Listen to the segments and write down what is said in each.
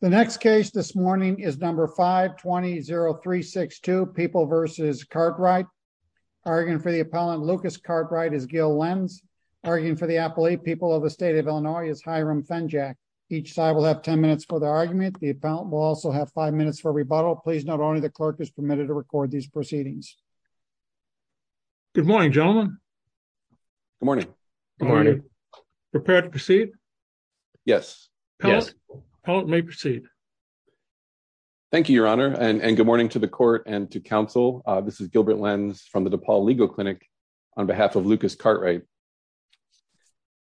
The next case this morning is number 520362 people versus Cartwright arguing for the appellant. Lucas Cartwright is Gil Lenz, arguing for the appellate people of the state of Illinois is Hiram Fenjack. Each side will have 10 minutes for the argument. The appellant will also have five minutes for rebuttal. Please. Not only the clerk is permitted to record these proceedings. Good morning, gentlemen. Good morning. Good morning. Prepared to proceed? Yes. Yes. Appellant may proceed. Thank you, Your Honor. And good morning to the court and to counsel. This is Gilbert Lenz from the DePaul Legal Clinic on behalf of Lucas Cartwright.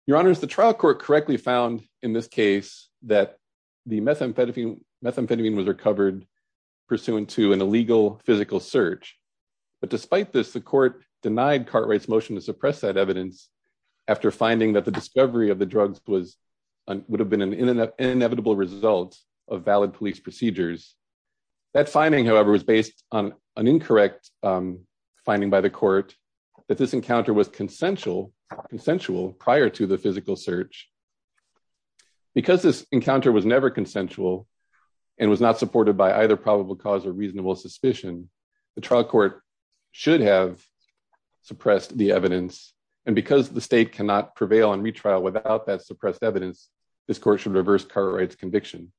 Your Honor, the trial court correctly found in this case that the methamphetamine methamphetamine was recovered pursuant to an appellate Cartwright's motion to suppress that evidence after finding that the discovery of the drugs was would have been an inevitable result of valid police procedures. That finding, however, was based on an incorrect finding by the court that this encounter was consensual prior to the physical search. Because this encounter was never consensual and was not supported by either probable cause or reasonable suspicion, the trial court should have suppressed the evidence. And because the state cannot prevail on retrial without that suppressed evidence, this court should reverse Cartwright's conviction.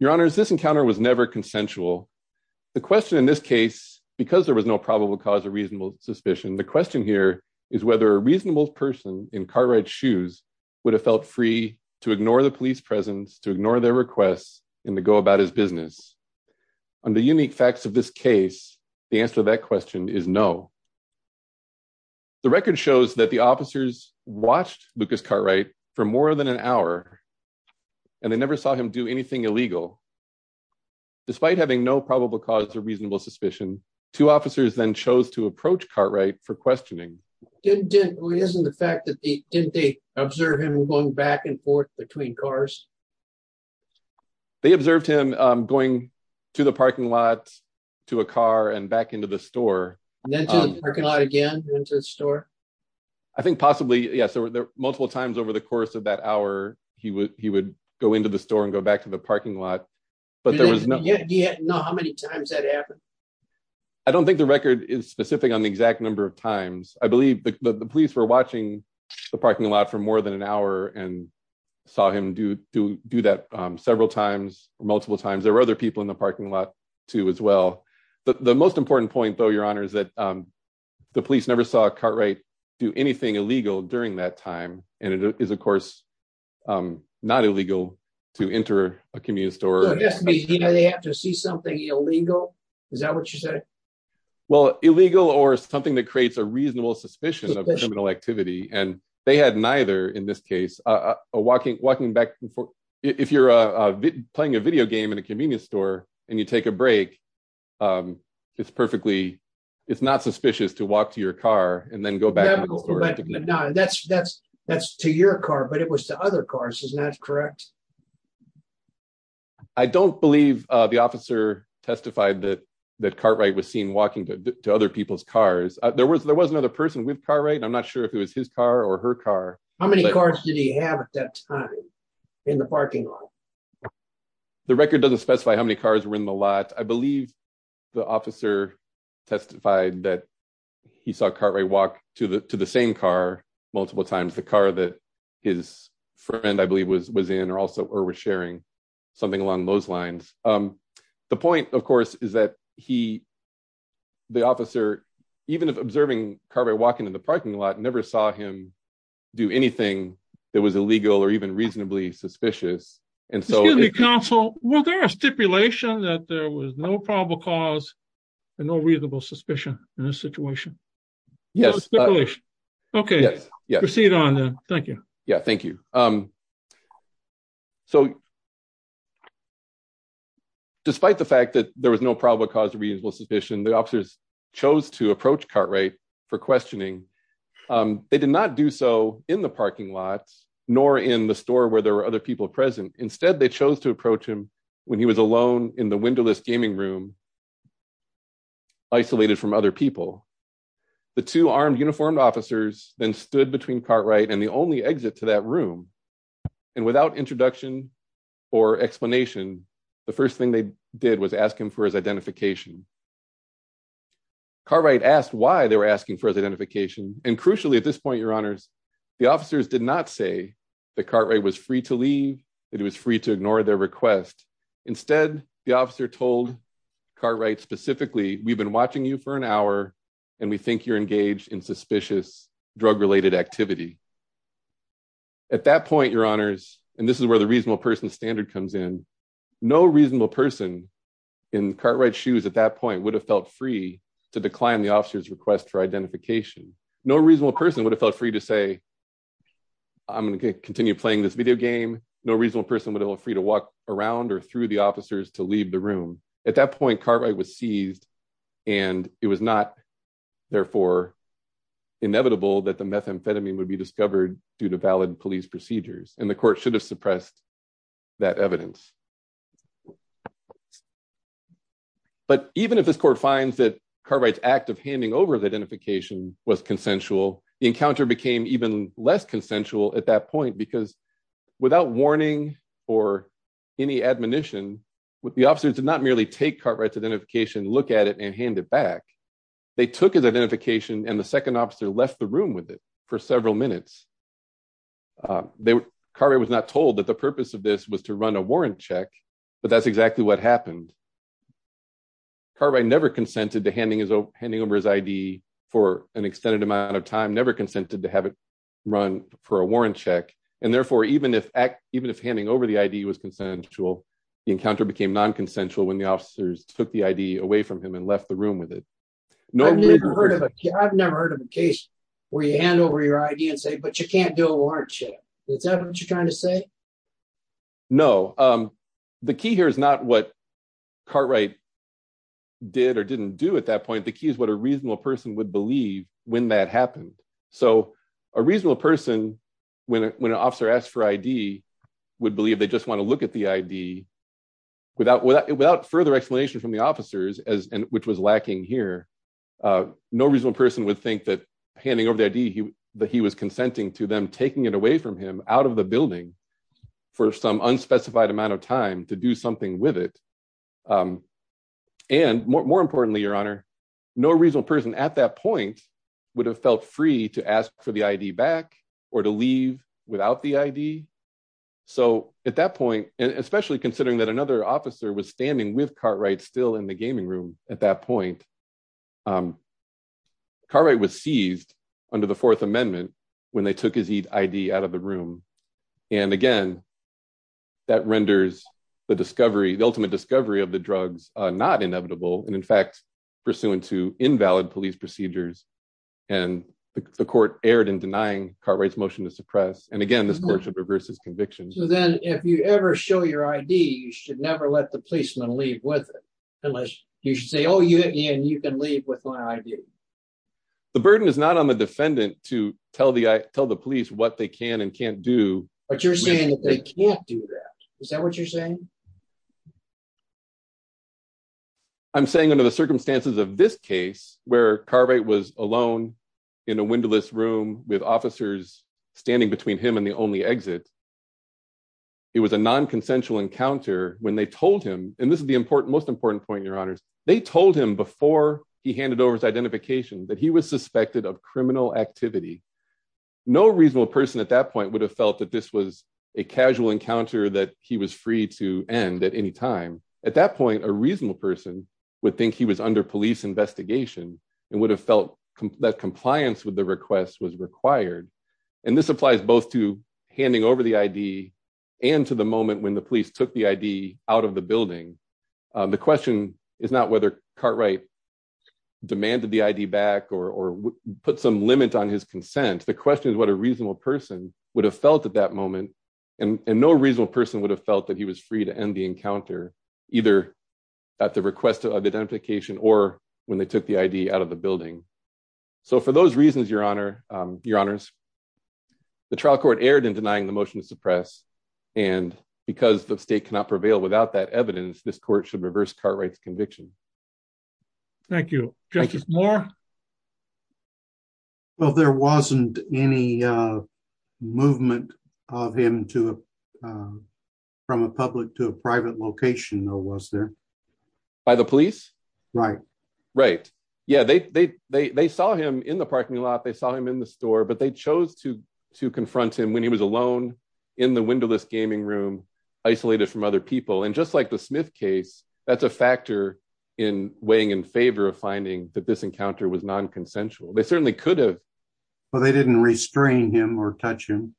Your Honor, this encounter was never consensual. The question in this case, because there was no probable cause or reasonable suspicion, the question here is whether a reasonable person in Cartwright's shoes would have felt free to ignore the police presence, to ignore their requests, and to go about his business. On the unique facts of this case, the answer to that question is no. The record shows that the officers watched Lucas Cartwright for more than an hour, and they never saw him do anything illegal. Despite having no probable cause or reasonable suspicion, two officers then chose to approach Cartwright for questioning. Didn't they observe him going back and forth between cars? They observed him going to the parking lot, to a car, and back into the store. And then to the parking lot again, and to the store? I think possibly, yes, there were multiple times over the course of that hour, he would go into the store and go back to the parking lot, but there was no... Yeah, do you know how many times that happened? I don't think the record is specific on the exact number of times. I believe the police were several times, multiple times. There were other people in the parking lot, too, as well. The most important point, though, Your Honor, is that the police never saw Cartwright do anything illegal during that time. And it is, of course, not illegal to enter a commune store. So it has to be, they have to see something illegal? Is that what you're saying? Well, illegal or something that creates a reasonable suspicion of criminal activity. And they had neither in this case. If you're playing a video game in a convenience store, and you take a break, it's not suspicious to walk to your car and then go back. That's to your car, but it was to other cars. Isn't that correct? I don't believe the officer testified that Cartwright was seen walking to other people's car or her car. How many cars did he have at that time in the parking lot? The record doesn't specify how many cars were in the lot. I believe the officer testified that he saw Cartwright walk to the same car multiple times. The car that his friend, I believe, was in or was sharing. Something along those lines. The point, of course, is that he, the officer, even if observing Cartwright walking in the parking lot, never saw him do anything that was illegal or even reasonably suspicious. Excuse me, counsel. Was there a stipulation that there was no probable cause and no reasonable suspicion in this situation? Yes. Okay. Proceed on then. Thank you. Yeah. Thank you. So, despite the fact that there was no probable cause of reasonable suspicion, the officers chose to approach Cartwright for questioning. They did not do so in the parking lot nor in the store where there were other people present. Instead, they chose to approach him when he was alone in the windowless gaming room, isolated from other people. The two armed uniformed officers then stood between Cartwright and the only exit to that room. And without introduction or explanation, the first thing they did was ask him for his identification. Cartwright asked why they were asking for his identification. And crucially, at this point, your honors, the officers did not say that Cartwright was free to leave, that he was free to ignore their request. Instead, the officer told Cartwright specifically, we've been watching you for an hour and we think you're engaged in suspicious drug-related activity. At that point, and this is where the reasonable person standard comes in, no reasonable person in Cartwright's shoes at that point would have felt free to decline the officer's request for identification. No reasonable person would have felt free to say, I'm going to continue playing this video game. No reasonable person would feel free to walk around or through the officers to leave the room. At that point, Cartwright was seized and it was not, therefore, inevitable that the methamphetamine would be discovered due to valid police procedures. And the court should have suppressed that evidence. But even if this court finds that Cartwright's act of handing over the identification was consensual, the encounter became even less consensual at that point, because without warning or any admonition, the officers did not merely take Cartwright's identification, look at it and hand it back. They took his identification and the second officer left the room with it for several minutes. Cartwright was not told that the purpose of this was to run a warrant check, but that's exactly what happened. Cartwright never consented to handing over his ID for an extended amount of time, never consented to have it run for a warrant check. And therefore, even if handing over the ID was consensual, the encounter became non-consensual when the officers took the ID away from him and left the room with it. I've never heard of a case where you hand over your ID and say, but you can't do a warrant check. Is that what you're trying to say? No. The key here is not what Cartwright did or didn't do at that point. The key is what a reasonable person would believe when that happened. So a reasonable person, when an officer asked for ID, would believe they just want to look at the ID. Without further explanation from the officers, which was lacking here, no reasonable person would think that handing over the ID, that he was consenting to them taking it away from him out of the building for some unspecified amount of time to do something with it. And more importantly, your honor, no reasonable person at that point would have felt free to ask for the ID back or to leave without the ID. So at that point, especially considering that another officer was standing with Cartwright still in the gaming room at that point, um, Cartwright was seized under the Fourth Amendment when they took his ID out of the room. And again, that renders the discovery, the ultimate discovery of the drugs, uh, not inevitable. And in fact, pursuant to invalid police procedures and the court erred in denying Cartwright's motion to suppress. And again, this court should reverse his conviction. So then if you ever show your ID, you should never let the policeman leave with it, you should say, oh, you hit me and you can leave with my ID. The burden is not on the defendant to tell the police what they can and can't do. But you're saying that they can't do that. Is that what you're saying? I'm saying under the circumstances of this case where Cartwright was alone in a windowless room with officers standing between him and the only exit, it was a non-consensual encounter when they told him before he handed over his identification that he was suspected of criminal activity. No reasonable person at that point would have felt that this was a casual encounter that he was free to end at any time. At that point, a reasonable person would think he was under police investigation and would have felt that compliance with the request was required. And this applies both to handing over the ID and to the moment when the police took the ID out of the building. The question is not whether Cartwright demanded the ID back or put some limit on his consent. The question is what a reasonable person would have felt at that moment. And no reasonable person would have felt that he was free to end the encounter either at the request of identification or when they took the ID out of the building. So for those reasons, your honors, the trial court erred in denying the motion to suppress. And because the state cannot prevail without that court should reverse Cartwright's conviction. Thank you. Justice Moore? Well, there wasn't any movement of him from a public to a private location though, was there? By the police? Right. Right. Yeah, they saw him in the parking lot, they saw him in the store, but they chose to confront him when he was alone in the windowless gaming room, isolated from other people. And just the Smith case, that's a factor in weighing in favor of finding that this encounter was non-consensual. They certainly could have. But they didn't restrain him or touch him?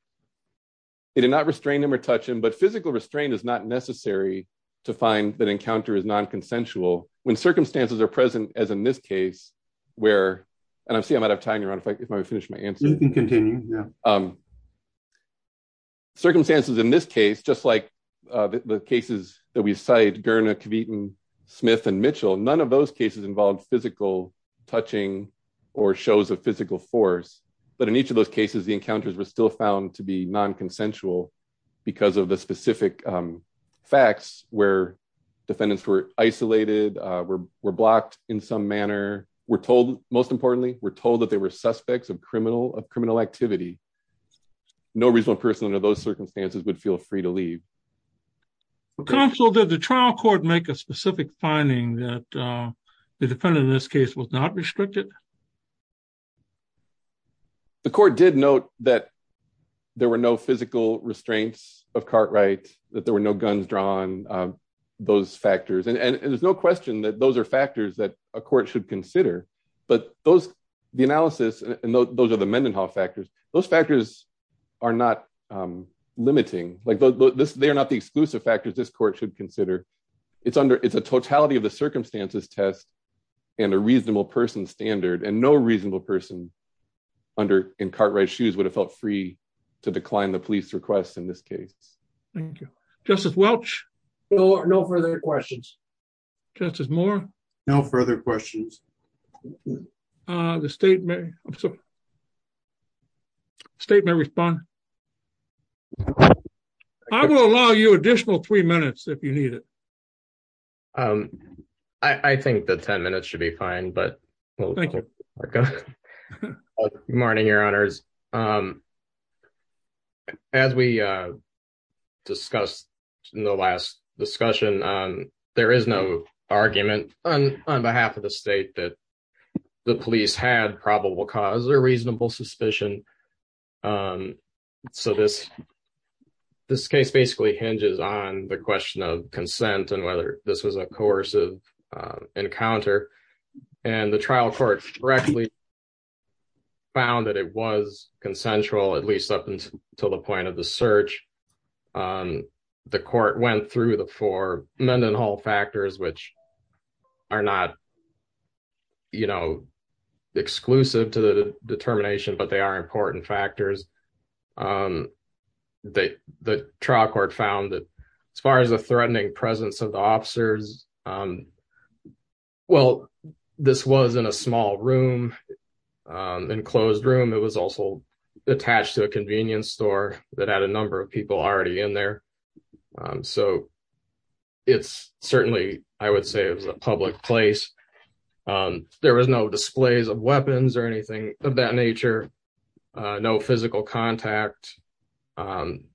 They did not restrain him or touch him, but physical restraint is not necessary to find that encounter is non-consensual when circumstances are present as in this case, where, and I'm seeing I'm out of time, your honor, if I finish my answer. You can continue. Yeah. Circumstances in this case, just like the cases that we cite, Gerner, Kavitin, Smith, and Mitchell, none of those cases involved physical touching or shows of physical force. But in each of those cases, the encounters were still found to be non-consensual because of the specific facts where defendants were isolated, were blocked in some manner. We're told most suspects of criminal activity. No reasonable person under those circumstances would feel free to leave. Counsel, did the trial court make a specific finding that the defendant in this case was not restricted? The court did note that there were no physical restraints of Cartwright, that there were no guns drawn, those factors. And there's no question that those are factors that a court should consider. But those, the analysis, and those are the Mendenhall factors, those factors are not limiting, like this, they're not the exclusive factors this court should consider. It's under, it's a totality of the circumstances test and a reasonable person standard and no reasonable person under in Cartwright's shoes would have felt free to decline the police requests in this case. Thank you, Justice Welch. No further questions. Justice Moore? No further questions. The state may, I'm sorry, state may respond. I will allow you additional three minutes if you need it. I think the 10 minutes should be fine. Thank you. Good morning, your honors. As we discussed in the last discussion, there is no argument on behalf of the state that the police had probable cause or reasonable suspicion. So this case basically hinges on the question of consent and whether this was a coercive encounter. And the trial court correctly found that it was consensual, at least up until the point of the search. The court went through the four Mendenhall factors, which are not, you know, exclusive to the determination, but they are important factors. The trial court found that as far as the threatening presence of the officers, it was, well, this was in a small room, enclosed room. It was also attached to a convenience store that had a number of people already in there. So it's certainly, I would say it was a public place. There was no displays of weapons or anything of that nature, no physical contact, um,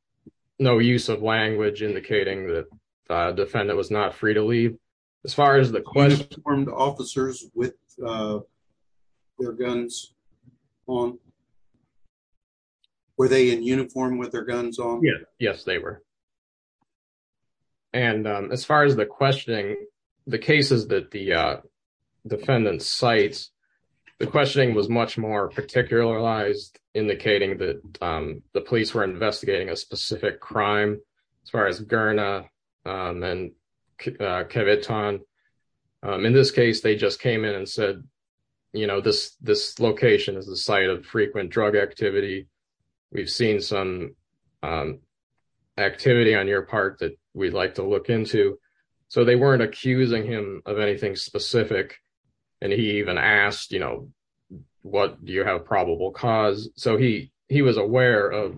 no use of language indicating that a defendant was not free to leave. As far as the question... Were they in uniform with their guns on? Yes, they were. And as far as the questioning, the cases that the defendant cites, the questioning was much more particularized, indicating that the police were investigating a specific crime. As far as Gurna and Kevitan, in this case, they just came in and said, you know, this location is the site of frequent drug activity. We've seen some activity on your part that we'd like to look into. So they weren't accusing him of anything specific. And he even asked, you know, what do you have probable cause? So he was aware of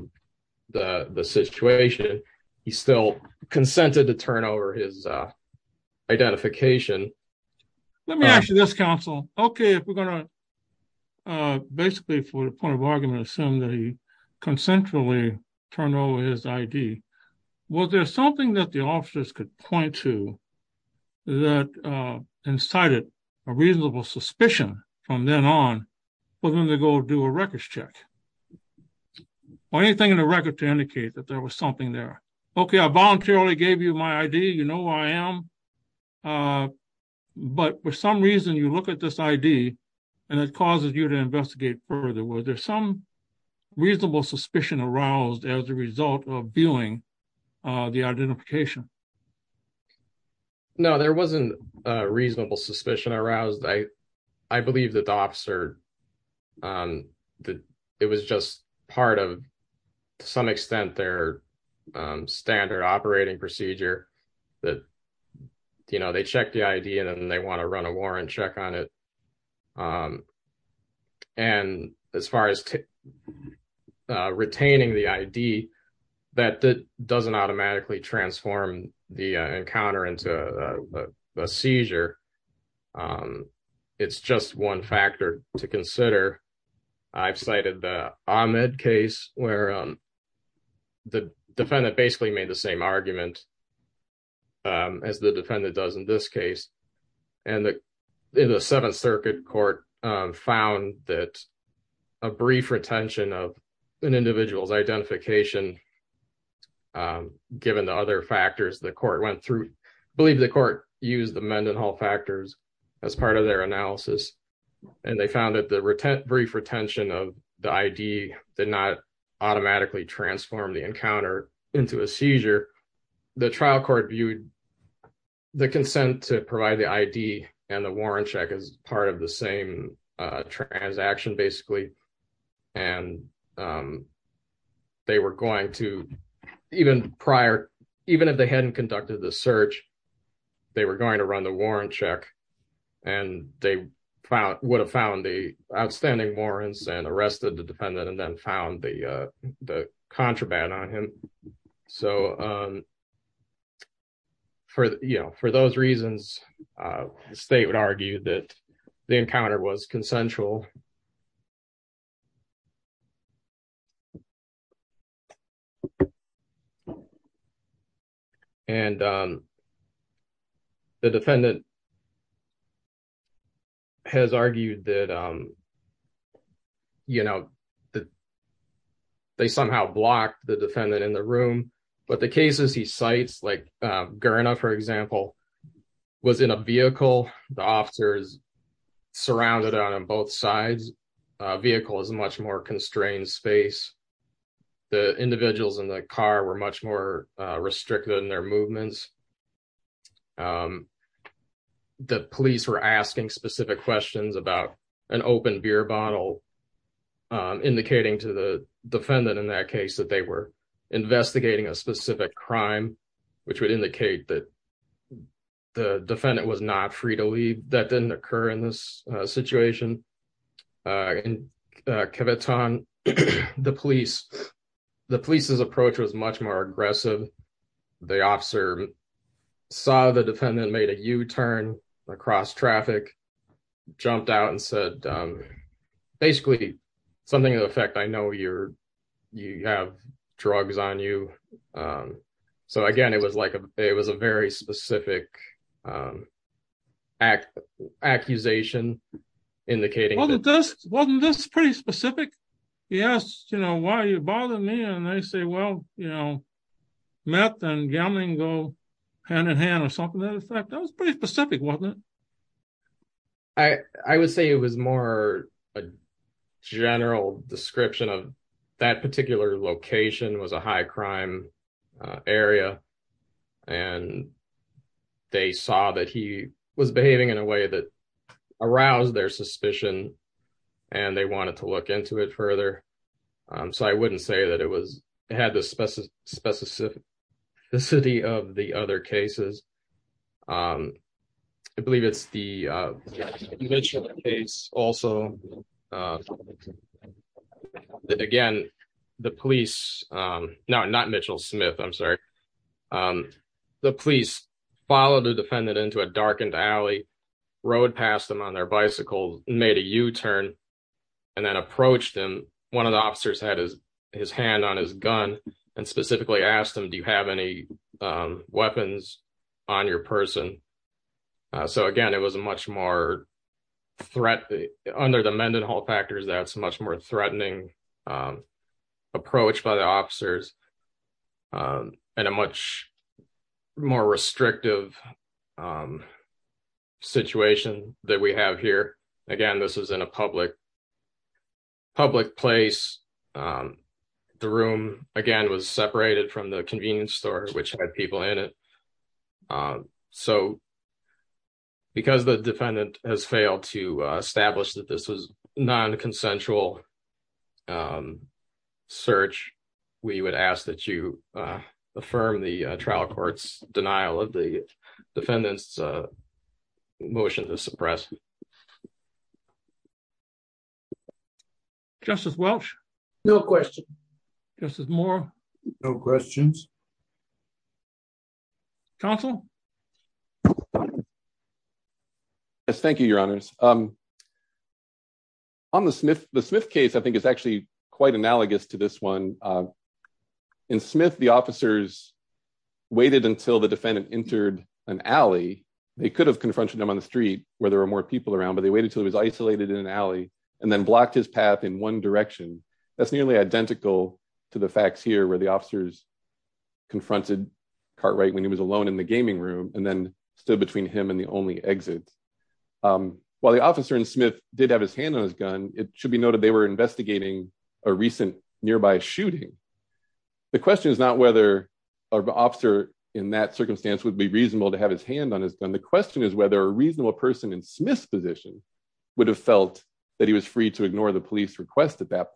the situation. He still consented to turn over his identification. Let me ask you this, counsel. Okay, if we're going to basically, for the point of argument, assume that he consensually turned over his ID. Was there something that the officers could point to that incited a reasonable suspicion from then on for them to go do a records check? Or anything in the record to indicate that there was something there? Okay, I voluntarily gave you my ID. You know who I am. But for some reason, you look at this ID and it causes you to investigate further. Was there some reasonable suspicion aroused as a result of viewing the identification? No, there wasn't a reasonable suspicion aroused. I believe that the officer, it was just part of some extent their standard operating procedure that, you know, they check the ID and then they want to run a warrant check on it. And as far as retaining the ID, that doesn't automatically transform the encounter into a seizure. It's just one factor to consider. I've cited the Ahmed case where the defendant basically made the same argument as the defendant does in this case. And in the Seventh Circuit Court found that a brief retention of an individual's identification, given the other court used the Mendenhall factors as part of their analysis, and they found that the brief retention of the ID did not automatically transform the encounter into a seizure. The trial court viewed the consent to provide the ID and the warrant check as part of the same transaction basically. And they were going to, even prior, even if they hadn't conducted the search, they were going to run the warrant check and they would have found the outstanding warrants and arrested the defendant and then found the contraband on him. So, you know, for those reasons, the state would argue that the encounter was consensual. And the defendant has argued that, you know, that they somehow blocked the defendant in the room. But the cases he cites, like Gurna, for example, was in a vehicle. The officer is surrounded on both sides. Vehicle is a much more constrained space. The individuals in the car were much more restricted in their movements. The police were asking specific questions about an open beer bottle, indicating to the defendant in that case that they were investigating a specific crime, which would indicate that the defendant was not free to leave. That didn't occur in this situation. In Kevaton, the police's approach was much more aggressive. The officer saw the defendant made a U-turn across traffic, jumped out and said, basically, something to the effect, I know you have drugs on you. So, again, it was a very specific accusation, indicating... Wasn't this pretty specific? He asked, you know, why are you bothering me? And they say, well, you know, meth and gambling go hand in hand or something to that effect. That was pretty specific, wasn't it? I would say it was more a general description of that particular location was a high crime area. And they saw that he was behaving in a way that aroused their suspicion. And they specified the specificity of the other cases. I believe it's the Mitchell case also. Again, the police, not Mitchell Smith, I'm sorry. The police followed the defendant into a darkened alley, rode past them on their bicycle, made a U-turn and then approached him. One of the officers had his hand on his gun and specifically asked him, do you have any weapons on your person? So, again, it was a much more threat under the Mendenhall factors. That's much more threatening approach by the officers and a much more restrictive situation that we have here. Again, this is in a public place. The room, again, was separated from the convenience store, which had people in it. So, because the defendant has failed to establish that this was non-consensual search, we would ask that you affirm the trial court's denial of the defendant's motion to suppress. Justice Welch? No question. Justice Moore? No questions. Counsel? Yes, thank you, Your Honors. On the Smith case, I think it's actually quite analogous to this one. In Smith, the officers waited until the defendant entered an alley. They could have confronted him on the street where there were more people around, but they waited until he was isolated in an alley and then blocked his path in one direction. That's nearly identical to the facts here where officers confronted Cartwright when he was alone in the gaming room and then stood between him and the only exit. While the officer in Smith did have his hand on his gun, it should be noted they were investigating a recent nearby shooting. The question is not whether an officer in that circumstance would be reasonable to have his hand on his gun. The question is whether a reasonable person in Smith's position would have felt that he was free to ignore the police request at that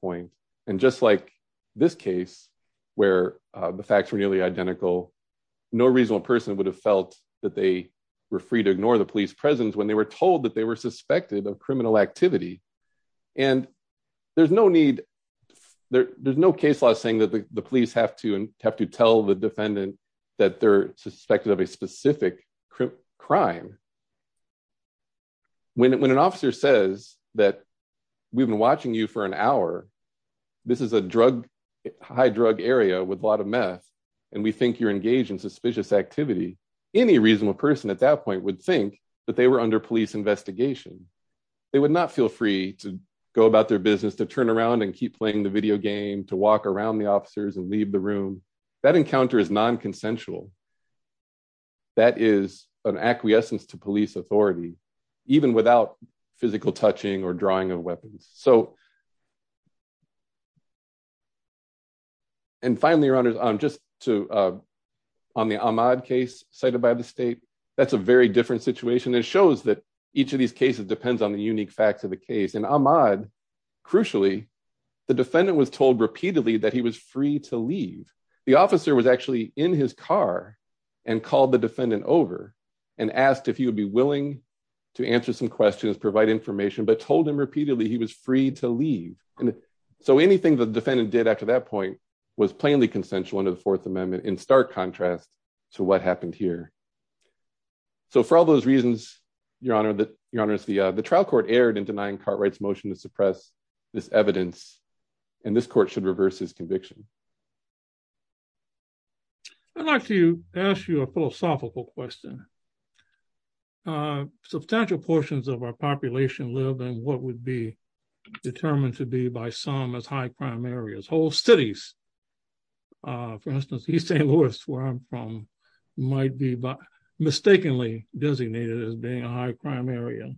case where the facts were nearly identical. No reasonable person would have felt that they were free to ignore the police presence when they were told that they were suspected of criminal activity. There's no need, there's no case law saying that the police have to have to tell the defendant that they're suspected of a specific crime. When an officer says that we've been watching you for an hour, this is a drug high drug area with a lot of meth and we think you're engaged in suspicious activity, any reasonable person at that point would think that they were under police investigation. They would not feel free to go about their business, to turn around and keep playing the video game, to walk around the officers and leave the room. That encounter is non-consensual. That is an acquiescence to police authority, even without physical touching or drawing of weapons. Finally, your honors, on the Ahmaud case cited by the state, that's a very different situation. It shows that each of these cases depends on the unique facts of the case. In Ahmaud, crucially, the defendant was told repeatedly that he was free to leave. The officer was actually in his car and called the defendant over and asked if he would be willing to answer some questions, provide information, but told him repeatedly he was free to leave. Anything the defendant did after that point was plainly consensual under the fourth amendment in stark contrast to what happened here. For all those reasons, your honors, the trial court erred in denying Cartwright's motion to suppress this evidence and this court should reverse his conviction. I'd like to ask you a philosophical question. Substantial portions of our population live in what would be determined to be by some as high crime areas. Whole cities, for instance, East St. Louis, where I'm from, might be mistakenly designated as being a high crime area.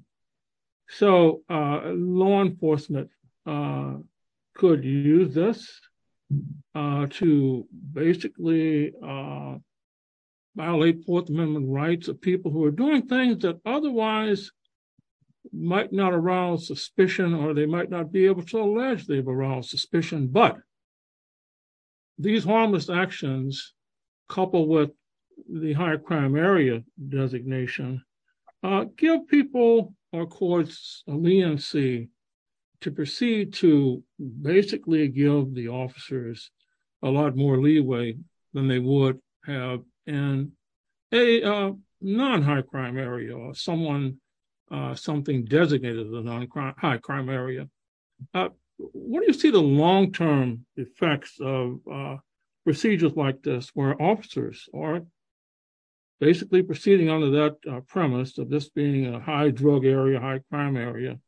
So law enforcement could use this to basically violate fourth amendment rights of people who are doing things that otherwise might not arouse suspicion or they might not be able to allege they've aroused suspicion, but these harmless actions coupled with the higher crime area designation give people or courts a leniency to proceed to basically give the officers a lot more leeway than they would have in a non-high crime area or something designated as a non-high crime area. What do you see the long-term effects of procedures like this where officers are basically proceeding under that premise of this being a high drug area, high crime area,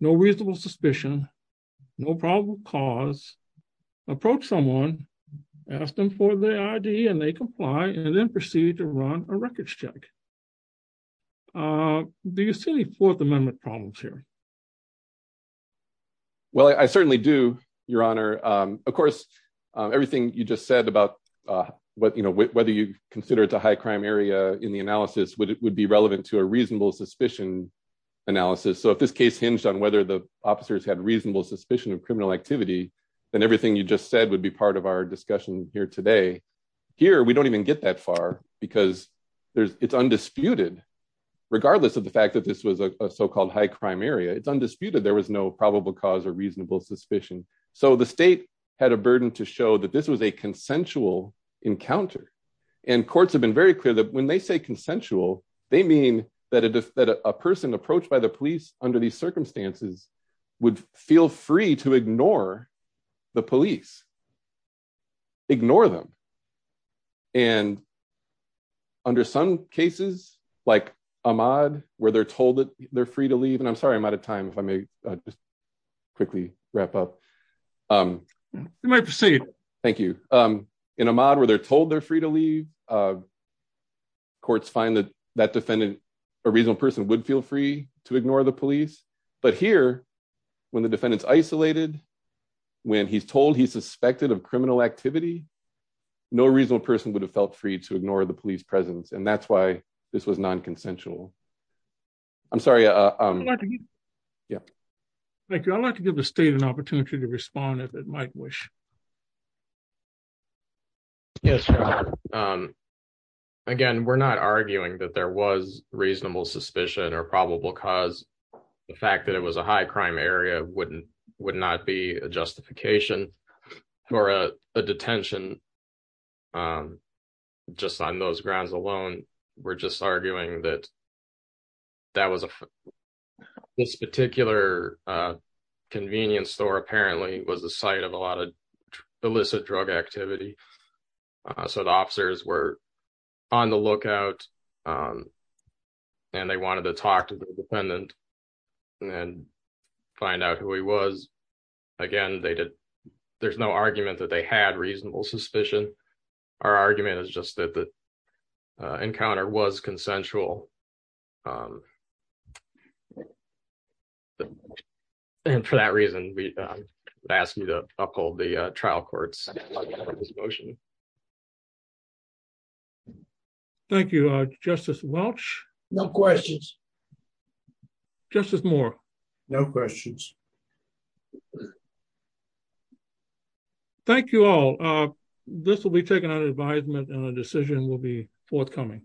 no reasonable suspicion, no probable cause, approach someone, ask them for their ID, and they comply and then proceed to run a record check. Do you see any fourth amendment problems here? Well, I certainly do, Your Honor. Of course, everything you just said about whether you consider it a high crime area in the analysis would be relevant to a reasonable suspicion analysis. So if this case hinged on whether the officers had reasonable suspicion of criminal activity, then everything you just said would be part of our discussion here today. Here, we don't even get that far because it's undisputed, regardless of the fact that this was a so-called high crime area. It's undisputed. There was no probable cause or reasonable suspicion. So the state had a burden to show that this was a consensual encounter. And courts have been very clear that when they say consensual, they mean that a person approached by the police under these circumstances would feel free to ignore the police, ignore them. And under some cases, like Ahmaud, where they're told that they're free to leave. And I'm sorry, I'm out of time, if I may just quickly wrap up. You may proceed. Thank you. In Ahmaud, where they're told they're free to leave, courts find that that defendant, a reasonable person, would feel free to ignore the police. But here, when the defendant's isolated, when he's told he's suspected of criminal activity, no reasonable person would have felt free to ignore the police presence. And that's why this was non-consensual. I'm sorry. Yeah. Thank you. I'd like to give the state an opportunity to respond if it might wish. Yes. Again, we're not arguing that there was reasonable suspicion or probable cause. The fact that it was a high crime area would not be a detention just on those grounds alone. We're just arguing that this particular convenience store apparently was the site of a lot of illicit drug activity. So the officers were on the lookout and they wanted to talk to the defendant and find out who he was. Again, there's no argument that they had reasonable suspicion. Our argument is just that the encounter was consensual. And for that reason, we ask you to uphold the trial court's motion. Thank you, Justice Welch. No questions. Justice Moore. No questions. Thank you all. This will be taken under advisement and a decision will be forthcoming.